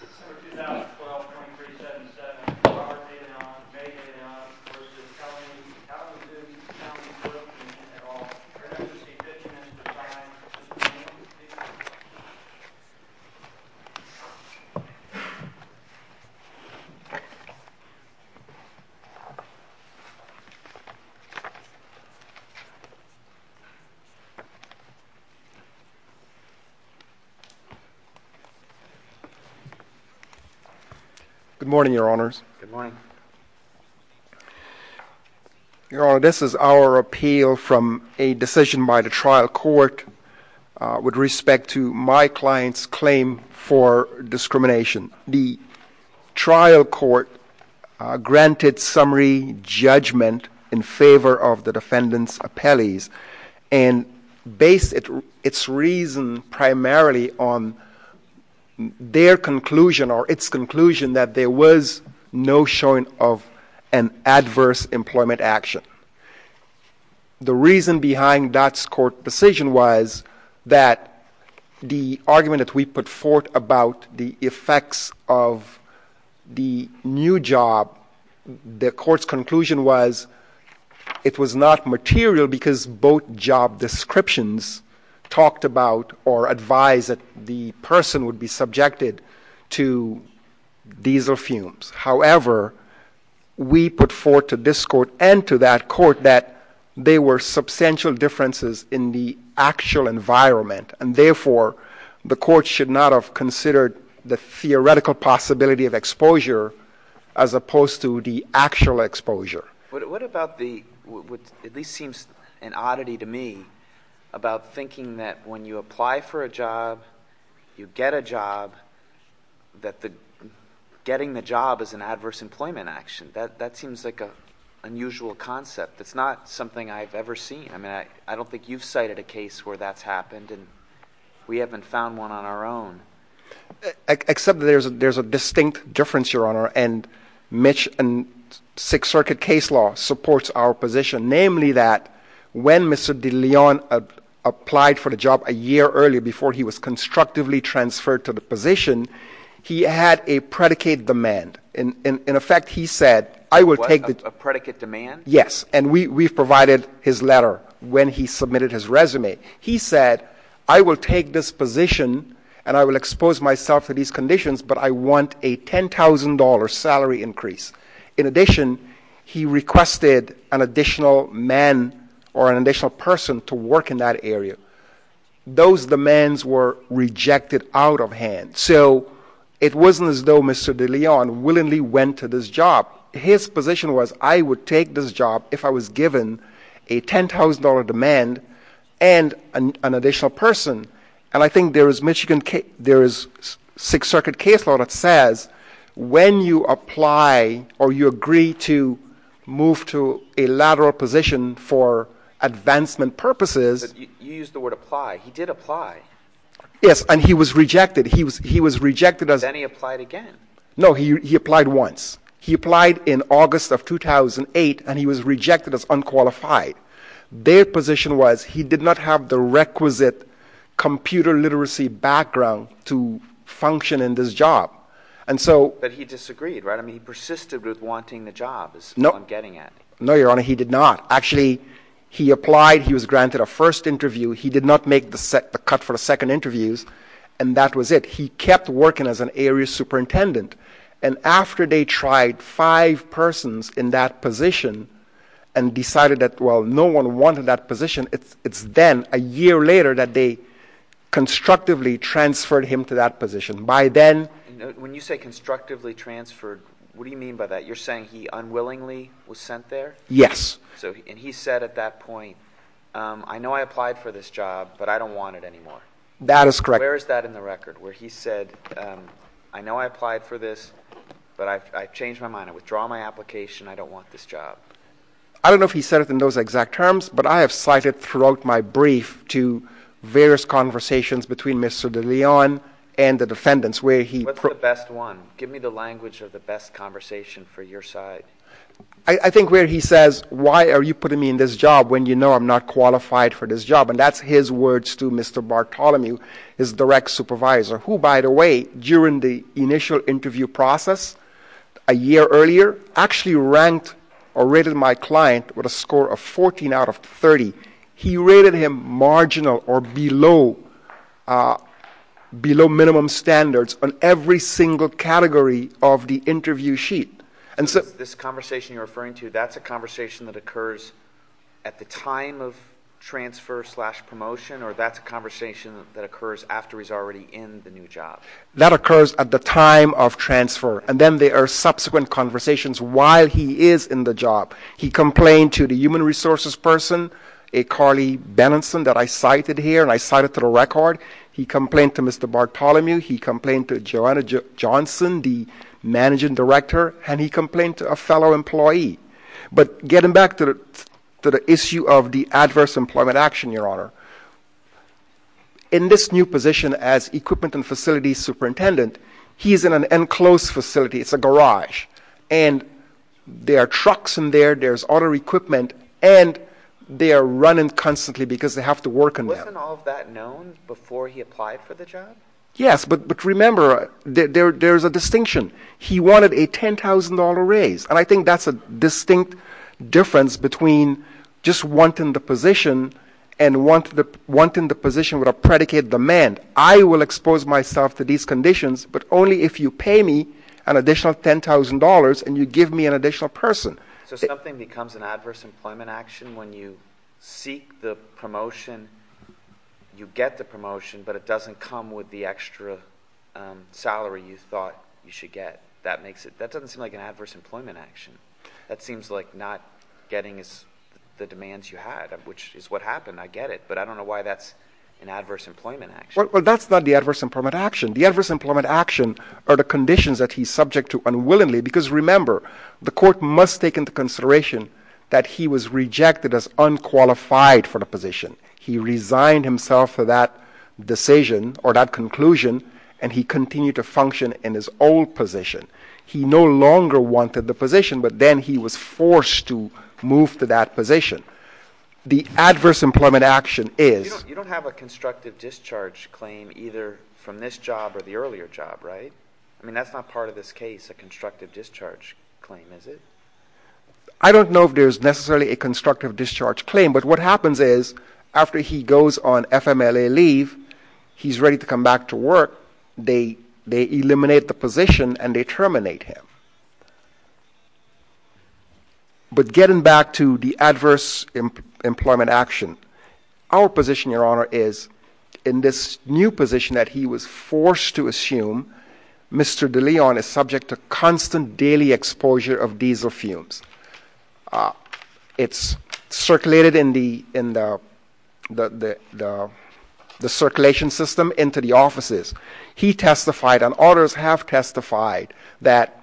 This is for 2012-03-77. You are dated on, may be dated on, versus telling me how to do this, how to do it, and at all. You're going to have to see 50 minutes of time. This is for you. These are for you. Good morning, Your Honors. Good morning. Your Honor, this is our appeal from a decision by the trial court with respect to my client's claim for discrimination. The trial court granted summary judgment in favor of the defendant's appellees and based its reason primarily on their conclusion or its conclusion that there was no showing of an adverse employment action. The reason behind that court decision was that the argument that we put forth about the effects of the new job, the court's conclusion was that it was not material because both job descriptions talked about or advised that the person would be subjected to diesel fumes. However, we put forth to this court and to that court that there were substantial differences and therefore the court should not have considered the theoretical possibility of exposure as opposed to the actual exposure. What about the, what at least seems an oddity to me, about thinking that when you apply for a job, you get a job, that getting the job is an adverse employment action. That seems like an unusual concept. It's not something I've ever seen. I don't think you've cited a case where that's happened and we haven't found one on our own. Except that there's a distinct difference, Your Honor, and Sixth Circuit case law supports our position, namely that when Mr. De Leon applied for the job a year earlier before he was constructively transferred to the position, he had a predicate demand. In effect, he said, I will take the... A predicate demand? Yes, and we've provided his letter when he submitted his resume. He said, I will take this position and I will expose myself to these conditions but I want a $10,000 salary increase. In addition, he requested an additional man or an additional person to work in that area. Those demands were rejected out of hand. So it wasn't as though Mr. De Leon willingly went to this job. His position was, I would take this job if I was given a $10,000 demand and an additional person. And I think there is Sixth Circuit case law that says when you apply or you agree to move to a lateral position for advancement purposes... You used the word apply. He did apply. Yes, and he was rejected. He was rejected as... Then he applied again. No, he applied once. He applied in August of 2008 and he was rejected as unqualified. Their position was he did not have the requisite computer literacy background to function in this job. But he disagreed, right? He persisted with wanting the job. That's what I'm getting at. No, Your Honor, he did not. Actually, he applied. He was granted a first interview. He did not make the cut for the second interviews and that was it. He kept working as an area superintendent and after they tried five persons in that position and decided that, well, no one wanted that position, it's then, a year later, that they constructively transferred him to that position. By then... When you say constructively transferred, what do you mean by that? You're saying he unwillingly was sent there? Yes. And he said at that point, I know I applied for this job, but I don't want it anymore. That is correct. Where is that in the record where he said, I know I applied for this, but I've changed my mind. I withdraw my application. I don't want this job. I don't know if he said it in those exact terms, but I have cited throughout my brief to various conversations between Mr. DeLeon and the defendants where he... What's the best one? Give me the language of the best conversation for your side. I think where he says, why are you putting me in this job when you know I'm not qualified for this job? And that's his words to Mr. Bartholomew, his direct supervisor, who, by the way, during the initial interview process a year earlier, actually ranked or rated my client with a score of 14 out of 30. He rated him marginal or below minimum standards on every single category of the interview sheet. This conversation you're referring to, that's a conversation that occurs at the time of transfer slash promotion, or that's a conversation that occurs after he's already in the new job? That occurs at the time of transfer, and then there are subsequent conversations while he is in the job. He complained to the human resources person, a Carly Benenson that I cited here, and I cite it to the record. He complained to Mr. Bartholomew. He complained to Joanna Johnson, the managing director, and he complained to a fellow employee. But getting back to the issue of the adverse employment action, Your Honor, in this new position as equipment and facilities superintendent, he's in an enclosed facility. It's a garage, and there are trucks in there There's auto equipment, and they are running constantly because they have to work in there. Wasn't all of that known before he applied for the job? Yes, but remember, there's a distinction. He wanted a $10,000 raise, and I think that's a distinct difference between just wanting the position and wanting the position with a predicated demand. I will expose myself to these conditions, but only if you pay me an additional $10,000 and you give me an additional person. So something becomes an adverse employment action when you seek the promotion, you get the promotion, but it doesn't come with the extra salary you thought you should get. That doesn't seem like an adverse employment action. That seems like not getting the demands you had, which is what happened. I get it, but I don't know why that's an adverse employment action. Well, that's not the adverse employment action. The adverse employment action are the conditions that he's subject to unwillingly, because remember, the court must take into consideration that he was rejected as unqualified for the position. He resigned himself for that decision or that conclusion, and he continued to function in his old position. He no longer wanted the position, but then he was forced to move to that position. The adverse employment action is... You don't have a constructive discharge claim either from this job or the earlier job, right? I mean, that's not part of this case, a constructive discharge claim, is it? I don't know if there's necessarily a constructive discharge claim, but what happens is after he goes on FMLA leave, he's ready to come back to work. They eliminate the position and they terminate him. But getting back to the adverse employment action, our position, Your Honor, is in this new position that he was forced to assume, Mr. De Leon is subject to constant daily exposure of diesel fumes. It's circulated in the circulation system into the offices. He testified, and others have testified, that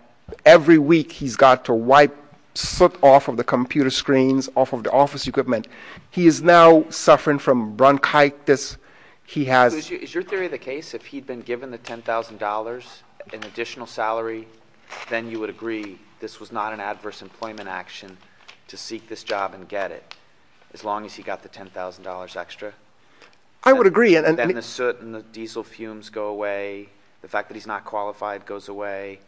every week he's got to wipe soot off of the computer screens, off of the office equipment. He is now suffering from bronchitis. He has... Is your theory the case if he'd been given the $10,000 in additional salary, then you would agree this was not an adverse employment action to seek this job and get it, as long as he got the $10,000 extra? I would agree. Then the soot and the diesel fumes go away. The fact that he's not qualified goes away.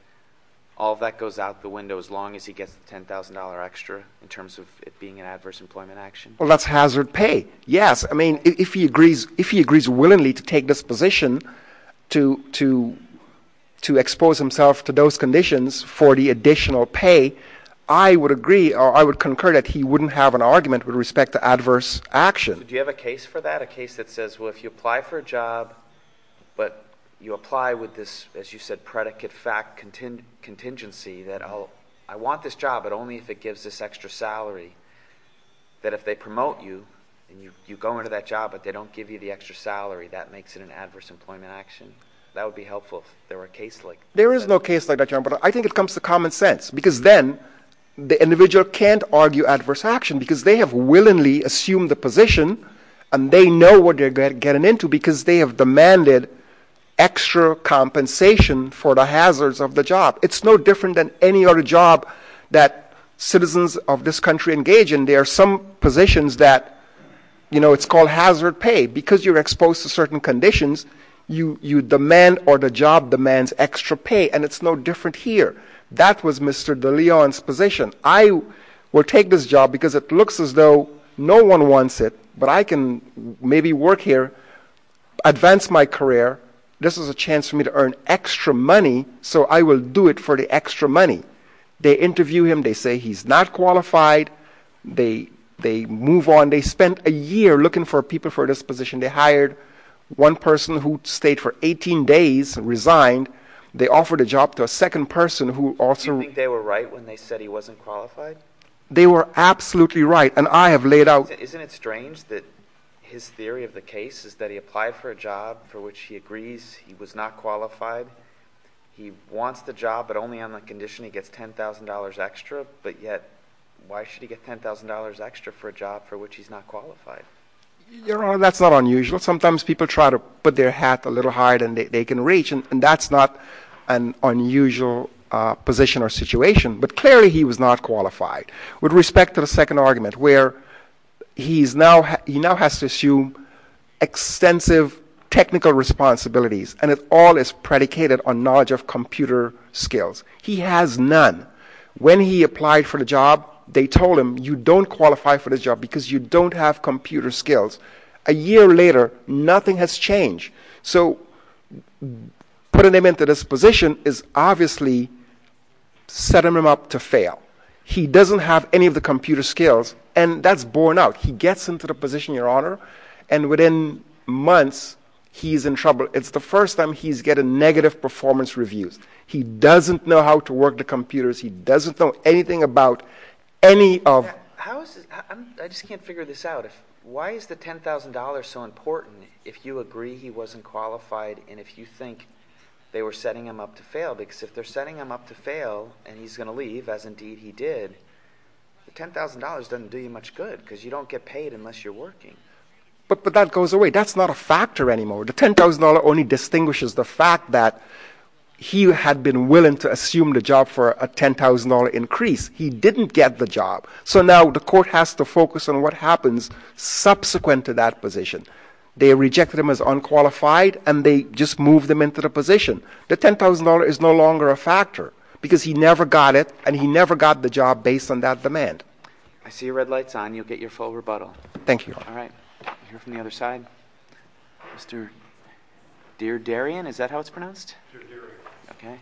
All of that goes out the window as long as he gets the $10,000 extra in terms of it being an adverse employment action? Well, that's hazard pay. Yes. I mean, if he agrees willingly to take this position to expose himself to those conditions for the additional pay, I would agree, or I would concur, that he wouldn't have an argument with respect to adverse action. Do you have a case for that? A case that says, well, if you apply for a job, but you apply with this, as you said, predicate-fact contingency that, oh, I want this job, but only if it gives this extra salary, that if they promote you, and you go into that job, but they don't give you the extra salary, that makes it an adverse employment action? That would be helpful if there were a case like that. There is no case like that, John, but I think it comes to common sense, because then the individual can't argue adverse action, because they have willingly assumed the position, and they know what they're getting into, because they have demanded extra compensation for the hazards of the job. It's no different than any other job that citizens of this country engage in. There are some positions that, you know, it's called hazard pay, because you're exposed to certain conditions, you demand, or the job demands extra pay, and it's no different here. That was Mr. De Leon's position. I will take this job, because it looks as though no one wants it, but I can maybe work here, advance my career. This is a chance for me to earn extra money, so I will do it for the extra money. They interview him. They say he's not qualified. They move on. They spent a year looking for people for this position. They hired one person who stayed for 18 days, resigned. They offered a job to a second person who also... Do you think they were right when they said he wasn't qualified? They were absolutely right, and I have laid out... Isn't it strange that his theory of the case is that he applied for a job for which he agrees he was not qualified? He wants the job, but only on the condition he gets $10,000 extra, but yet, why should he get $10,000 extra for a job for which he's not qualified? Your Honor, that's not unusual. Sometimes people try to put their hat a little higher than they can reach, and that's not an unusual position or situation, but clearly he was not qualified. With respect to the second argument where he now has to assume extensive technical responsibilities, and it all is predicated on knowledge of computer skills. He has none. When he applied for the job, they told him you don't qualify for this job because you don't have computer skills. A year later, nothing has changed. So putting him into this position is obviously setting him up to fail. He doesn't have any of the computer skills, and that's borne out. He gets into the position, Your Honor, and within months, he's in trouble. It's the first time he's getting negative performance reviews. He doesn't know how to work the computers. He doesn't know anything about any of... I just can't figure this out. Why is the $10,000 so important if you agree he wasn't qualified and if you think they were setting him up to fail? Because if they're setting him up to fail and he's going to leave, as indeed he did, the $10,000 doesn't do you much good because you don't get paid unless you're working. But that goes away. That's not a factor anymore. The $10,000 only distinguishes the fact that he had been willing to assume the job for a $10,000 increase. He didn't get the job. So now, the court has to focus on what happens subsequent to that position. They rejected him as unqualified and they just moved him into the position. The $10,000 is no longer a factor because he never got it and he never got the job based on that demand. I see your red light's on. You'll get your full rebuttal. Thank you, Your Honor. All right. We'll hear from the other side. Mr. Deardarian, is that how it's pronounced? Deardarian. Okay.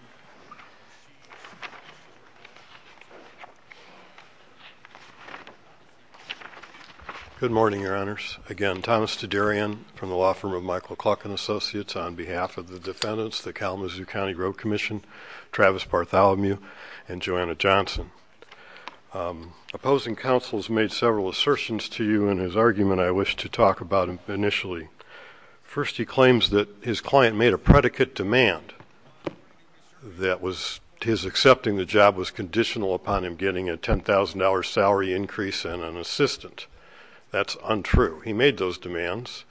Good morning, Your Honors. Again, Thomas Deardarian from the law firm of Michael Klocken Associates on behalf of the defendants, the Kalamazoo County Road Commission, Travis Bartholomew, and Joanna Johnson. Opposing counsel has made several assertions to you in his argument I wish to talk about initially. First, he claims that his client made a predicate demand that his accepting the job was conditional upon him getting a $10,000 salary increase and an assistant. That's untrue. He made those demands.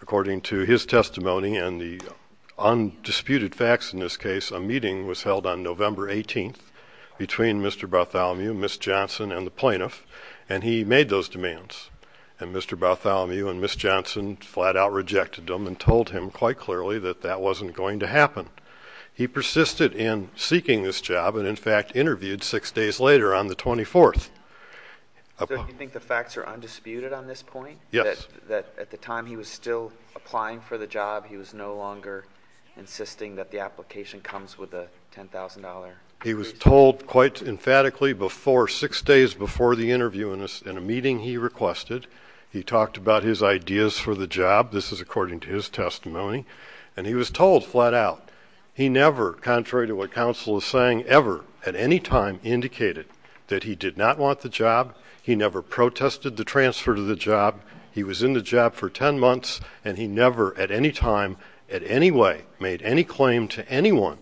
According to his testimony and the undisputed facts in this case, a meeting was held on November 18th between Mr. Bartholomew, Ms. Johnson, and the plaintiff, and he made those demands. And Mr. Bartholomew and Ms. Johnson flat out rejected them and told him quite clearly that that wasn't going to happen. He persisted in seeking this job and in fact interviewed six days later on the 24th. So you think the facts are undisputed on this point? Yes. That at the time he was still applying for the job, he was no longer insisting that the application comes with a $10,000 increase? He was told quite emphatically six days before the interview in a meeting he requested. He talked about his ideas for the job. This is according to his testimony. And he was told flat out he never, contrary to what indicated that he did not want the job. He never protested the transfer to the job. He was in the job for 10 months and he never at any time, at any way, made any claim to anyone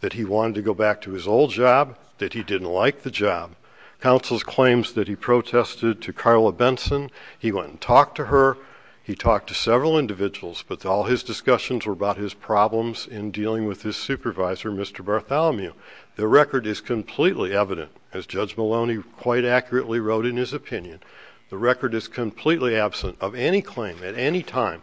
that he wanted to go back to his old job, that he didn't like the job. Counsel's claims that he protested to Carla Benson, he went and talked to her, he talked to several individuals, but all his discussions were about his problems in dealing with his supervisor, Mr. Bartholomew. The record is completely evident, as Judge Maloney quite accurately wrote in his opinion. The record is completely absent of any claim at any time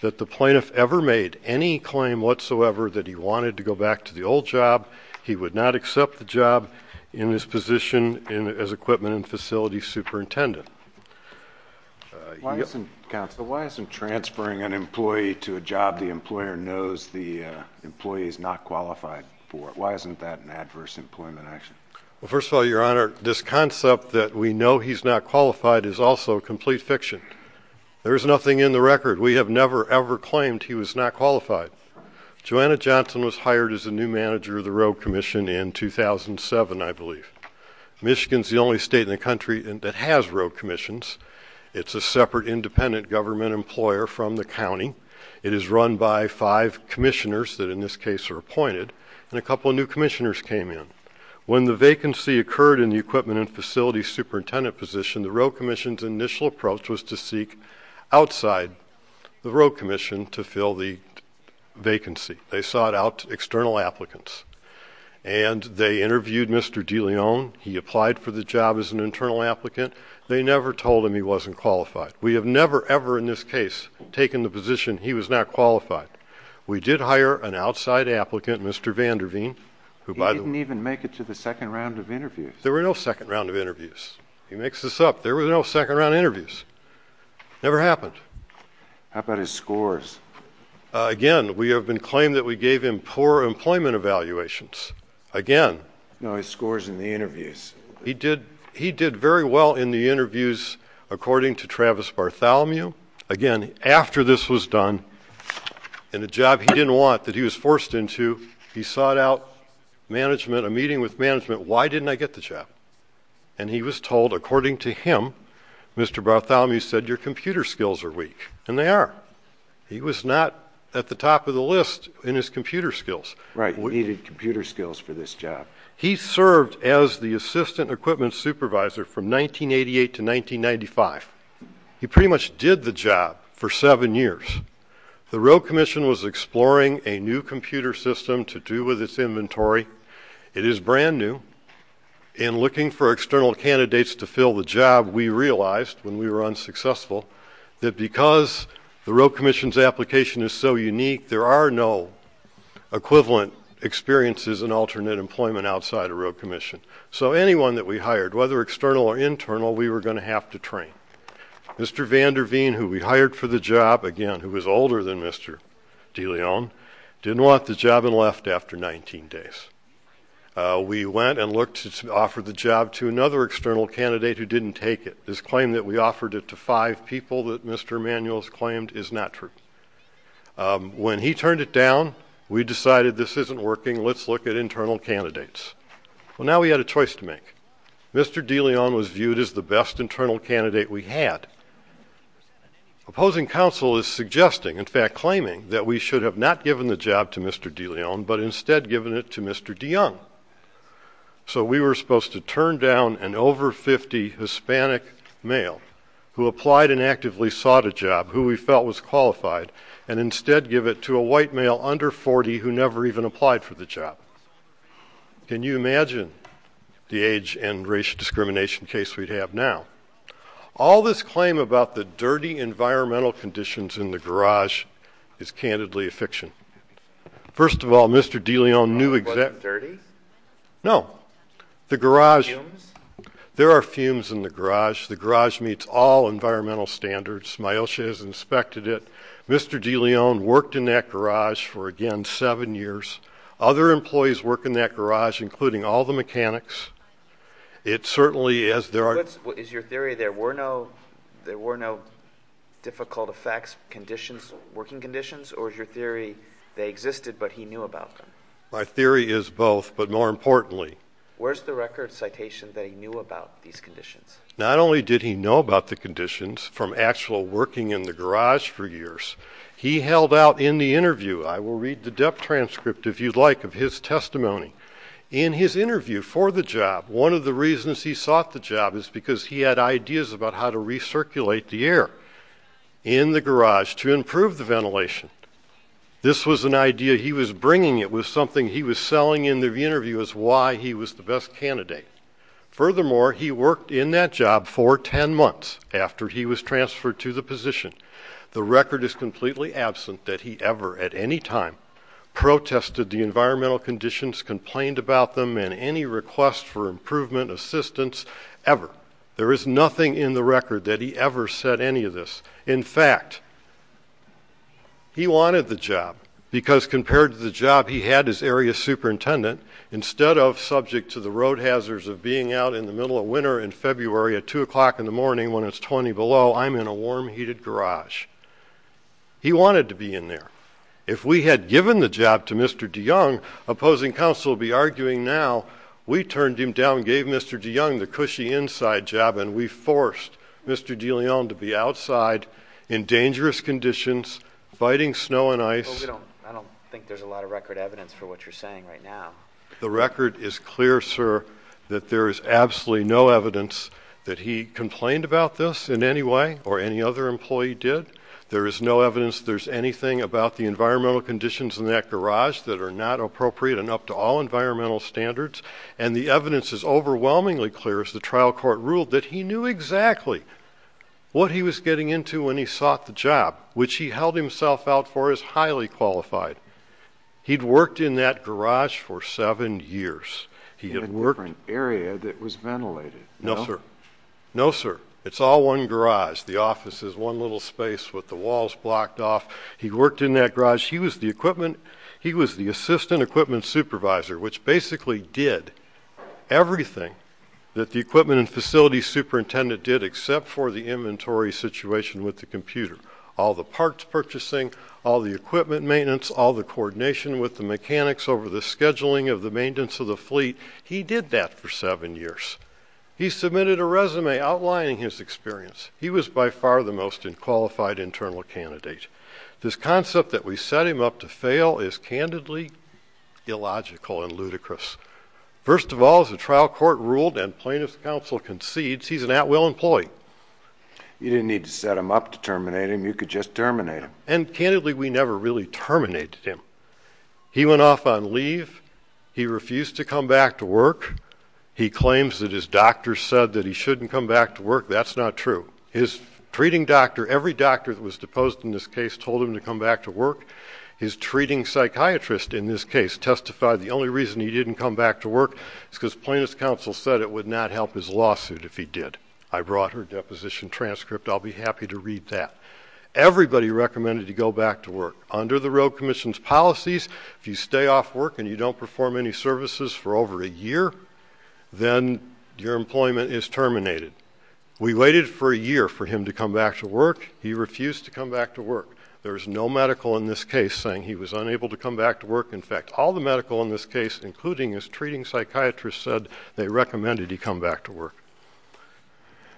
that the plaintiff ever made any claim whatsoever that he wanted to go back to the old job. He would not accept the job in his position as equipment and facility superintendent. Why isn't transferring an employee to a job the employer knows the employee is not qualified for? Why isn't that an adverse employment action? Well, first of all, Your Honor, this concept that we know he's not qualified is also complete fiction. There is nothing in the record. We have never ever claimed he was not qualified. Joanna Johnson was hired as the new manager of the road commission in 2007, I believe. Michigan's the only state in the country that has road commissions. It's a separate independent government employer from the county. It is run by five commissioners that in this case are appointed and a couple of new commissioners came in. When the vacancy occurred in the equipment and facility superintendent position, the road commission's initial approach was to seek outside the road commission to fill the vacancy. They sought out external applicants. And they interviewed Mr. DeLeon. He applied for the job as an internal applicant. They never told him he wasn't qualified. We have never ever in this case taken the position he was not qualified. We did hire an outside applicant, Mr. Vanderveen. He didn't even make it to the second round of interviews. There were no second round of interviews. He makes this up. There were no second round of interviews. Never happened. How about his scores? Again, we have been claimed that we gave him poor employment evaluations. Again. No, his scores in the interviews. He did very well in the interviews according to Travis Bartholomew. Again, after this was done in a job he didn't want that he was forced into, he sought out management, a meeting with management, why didn't I get the job? And he was told, according to him, Mr. Bartholomew said, your computer skills are weak. And they are. He was not at the top of the list in his computer skills. Right. He needed computer skills for this job. He served as the assistant equipment supervisor from 1988 to 1995. He pretty much did the job for seven years. The road commission was exploring a new computer system to do with its inventory. It is brand new. In looking for external candidates to fill the job, we realized when we were unsuccessful that because the road commission's application is so unique, there are no equivalent experiences in alternate employment outside a road commission. So anyone that we hired, whether external or internal, we were going to have to train. Mr. Van Der Veen, who we hired for the job, again, who was older than Mr. DeLeon, didn't want the job and left after 19 days. We went and looked to offer the job to another external candidate who didn't take it. This claim that we offered it to five people that Mr. Emanuel has claimed is not true. When he turned it down, we decided this isn't working. Let's look at internal candidates. Well, now we had a choice to make. Mr. DeLeon was viewed as the best internal candidate we had. Opposing counsel is suggesting, in fact, claiming, that we should have not given the job to Mr. DeLeon, but instead given it to Mr. DeYoung. So we were supposed to turn down an over-50 Hispanic male who applied and actively sought a job, who we felt was qualified, and instead give it to a white male under 40 who never even applied for the job. Can you imagine the age and racial discrimination case we'd have now? All this claim about the dirty environmental conditions in the garage is, candidly, a fiction. First of all, Mr. DeLeon knew exactly No. The garage There are fumes in the garage. The garage meets all environmental standards. My OSHA has inspected it. Mr. DeLeon worked in that garage for, again, seven years. Other employees work in that garage, including all the mechanics. It certainly, as there are Is your theory there were no there were no difficult effects, conditions, working conditions, or is your theory they existed but he knew about them? My theory is both, but more importantly Where's the record citation that he knew about these conditions? Not only did he know about the conditions from actual working in the garage for years, he held out in the interview I will read the depth transcript, if you'd like, of his testimony. In his interview for the job, one of the reasons he sought the job is because he had ideas about how to recirculate the air in the garage to improve the ventilation. This was an idea he was bringing it was something he was selling in the interview as why he was the best candidate. Furthermore, he worked in that job for ten months after he was transferred to the position. The record is completely absent that he ever, at any time, protested the environmental conditions, complained about them, and any request for improvement assistance, ever. There is nothing in the record that he ever said any of this. In fact, he wanted the job because compared to the job he had as area superintendent, instead of subject to the road hazards of being out in the middle of winter in February at two o'clock in the morning when it's twenty below, I'm in a warm heated garage. He wanted to be in there. If we had given the job to Mr. de Young, opposing counsel would be arguing now, we turned him down. He wanted to be outside, in dangerous conditions, fighting snow and ice. I don't think there's a lot of record evidence for what you're saying right now. The record is clear, sir, that there is absolutely no evidence that he complained about this in any way or any other employee did. There is no evidence there's anything about the environmental conditions in that garage that are not appropriate and up to all standards. What he was getting into when he sought the job, which he held himself out for, is highly qualified. He had worked in that garage for seven years. No, sir. It's all one garage. The office is one little space with the walls blocked off. He worked in that garage. He was the chief of all the inventory situation with the computer, all the parts purchasing, all the equipment maintenance, all the coordination with the mechanics over the scheduling of the maintenance of the fleet. He did that for seven years. He submitted a resume outlining his experience. He was by far the most unqualified internal candidate. This concept that we set him up to fail is candidly illogical and ludicrous. First of all, as the trial court ruled and plaintiff's counsel concedes, he's an at-will employee. You didn't need to set him up to terminate him. You could just terminate him. And candidly, we never really terminated him. He went off on his own. plaintiff's counsel in this case told him to come back to work. His treating psychiatrist testified the only reason he didn't come back to work was because plaintiff's counsel said it would not help his lawsuit if he did. Everybody recommended to go back to work. Under the road commission's policies, if you stay off work and you don't perform any services for over a year, then your employment is terminated. We waited for a year for him to come back to work. He refused to come back to work. There was no medical in this case saying he was unable to come back to work. All the medical in this case said they recommended he come back to work.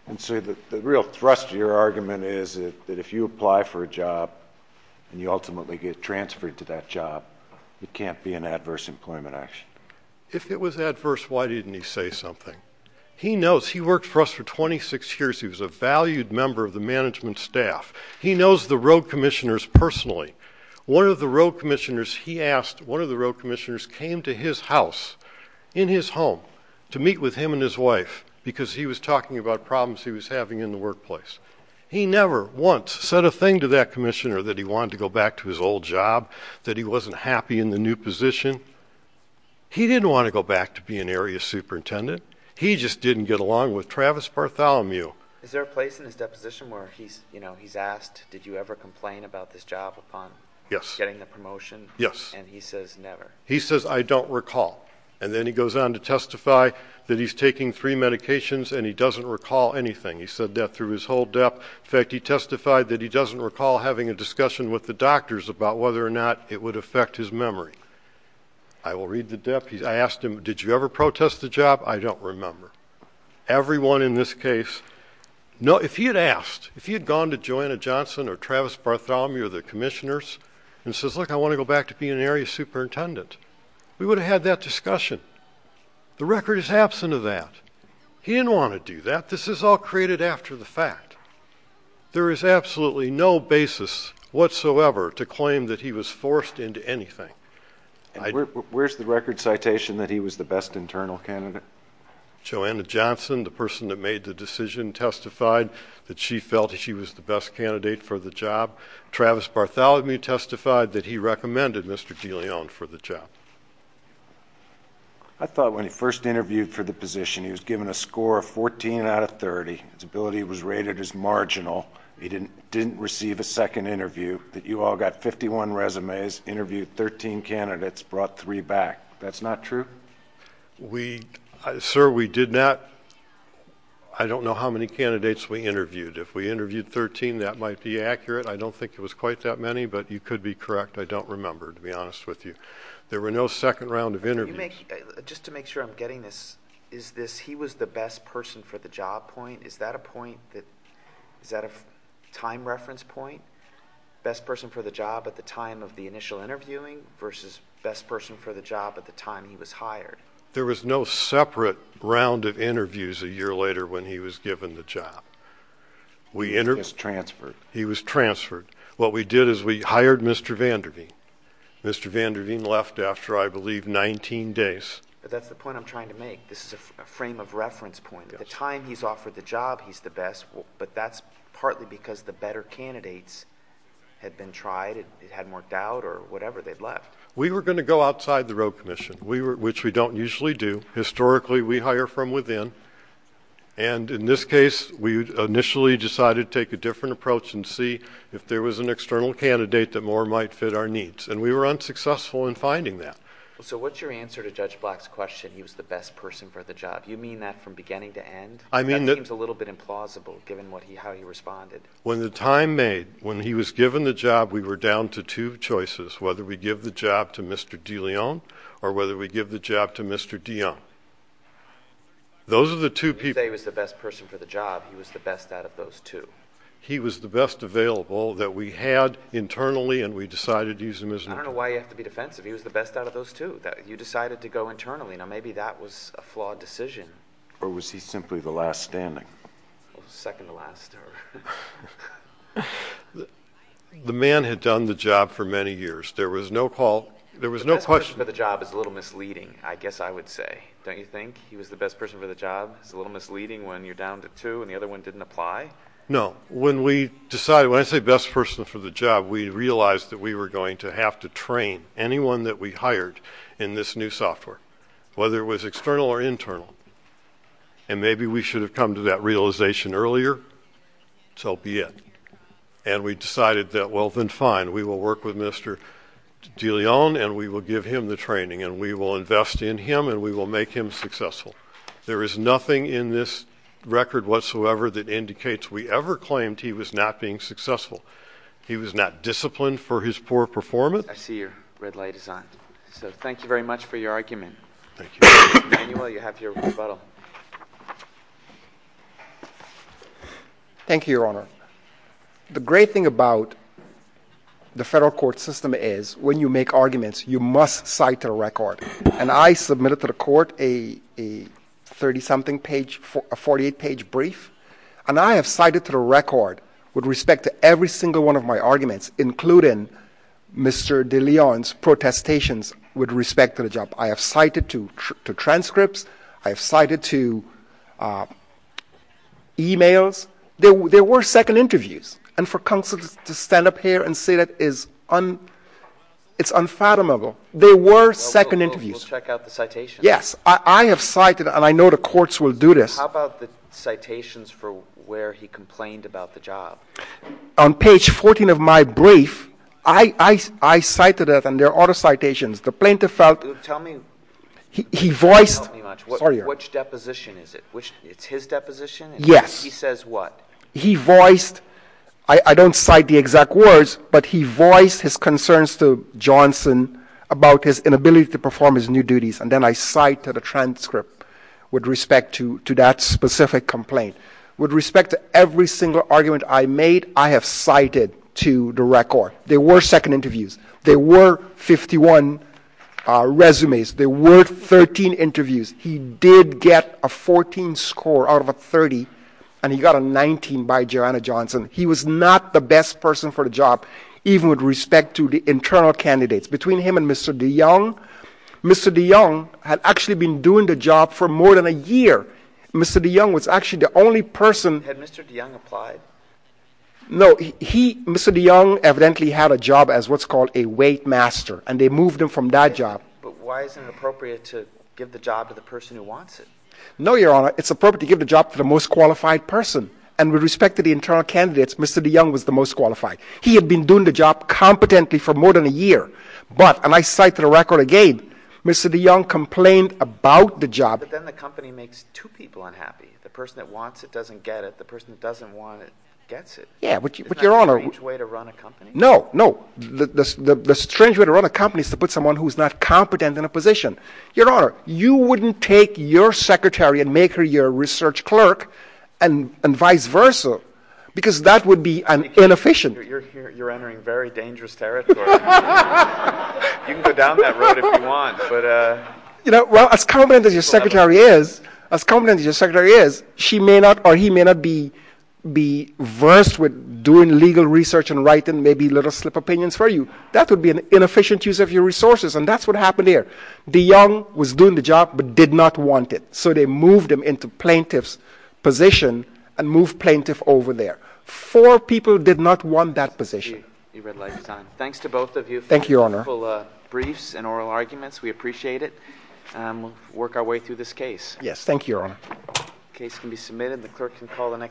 The real thrust of your argument is that if you apply for a job and you ultimately get transferred to that job, it can't be an adverse employment action. If it was adverse, why didn't he say something? He worked for us for 26 years. He was a valued member of the management staff. He knows the road commissioners personally. One of the road commissioners came to his house in his home to meet with him and his wife because he was talking about problems he was having in the workplace. He never once said a thing to his wife that he wasn't happy in the new position. He didn't want to go back to being an area superintendent. He just didn't get along with Travis. He says I don't recall. Then he goes on to testify that he's taking three medications and he doesn't recall anything. He testified that he doesn't recall having a discussion with the doctors about whether or not it would affect his memory. I asked him did you ever protest the job? I don't remember. Everyone in this case, if he had gone to Joanna Johnson or Travis Bartholomew or the commissioners and said I want to go back to being an area superintendent, we would have had that discussion. The record is absent of that. He didn't want to do that. This is all created after the fact. There is absolutely no basis whatsoever to claim that he was forced into anything. Where is the record citation that he was the best internal candidate? Joanna Johnson, the person that made the decision, testified that she felt she was the best candidate for the job. Travis Bartholomew testified that he recommended Mr. DeLeon for the job. I thought when he first interviewed for the job, he thought he was the best candidate for the job. I don't know how many candidates we interviewed. If we interviewed 13, that might be accurate. I don't think that was accurate. There was no separate round of interviews a year later. He was transferred. What we did is we hired Mr. Van Der Veen. He left after 19 days. The time he offered the job, he was the best. That's true. We were going to go outside the road commission, which we don't usually do. Historically, we hire from within. In this case, we initially decided to take a different approach and see if there was an external candidate that more might fit our needs. We were unsuccessful in finding that. So what's your answer to Judge Black's question, he was the best person for the job? You mean that from beginning to end? That seems a little bit implausible given how he responded. When he was given the job, we were down to two choices, whether we give the job to Mr. DeLeon or Mr. Dion. Those are the two people. He was the best person for the job. He was out of those two. I don't know why you have to be defensive. He was the best out of those two. You decided to go with Mr. Dion. The best person for the job is a little misleading. He was the best person for the job. It's a little misleading when you're down to two. When I say best person for the job, we realized we were going to have to train anyone that we hired in this new software. Whether it was external or internal. Maybe we should have come to that realization earlier. So be it. We decided we will work with Mr. DeLeon and give him the training and invest in him and make him successful. There is nothing in this record whatsoever that indicates we ever claimed he was not being successful. He was not disciplined for his poor performance. I see your red light is on. Thank you very much for your argument. Manuel, you have your rebuttal. Thank you, Your Honor. The great thing about the federal court system is when you make arguments, you must cite a record. I submitted to the court a 38-page brief. I have cited to the record with respect to every single one of my including Mr. DeLeon's protestations with respect to the job. I have cited to transcripts, I have cited to e-mails. There were second interviews. And for counsel to stand up here and say that is unfathomable. There were second interviews. How about the citations for where he complained about the job? On page 14 of my brief, I cited it and there are other citations. Tell me which deposition is it? Which is his deposition? He says what? He voiced I don't cite the exact words but he voiced his concerns to Johnson about his inability to perform his new duties. With respect to every single argument I made, I have cited to the record. There were second interviews. There were 51 resumes. There were 13 interviews. He did get a 14 score out of a 30 and he got a 19 by Johnson. He was not the best person for the job. Between him and Mr. DeJong, Mr. DeJong had been doing the job for more than a year. Mr. DeJong was the only person Mr. DeJong had a job as a weight master. They moved him from that job. Why is it not appropriate to give the job to the most qualified person? With respect to the internal candidates, Mr. DeJong was the most qualified. He had the job competently for more than a year. Mr. DeJong complained about the job. The strange way to run a have the right people to do the job and vice versa. That would be inefficient. As confident as your secretary is, he may not be versed with doing legal research and writing opinions. That would be inefficient. DeJong was doing the job but did not want it. Four people did not want that position. Thank you, Your Honor. We appreciate it. We'll work our way through this case. Thank you, Your Honor.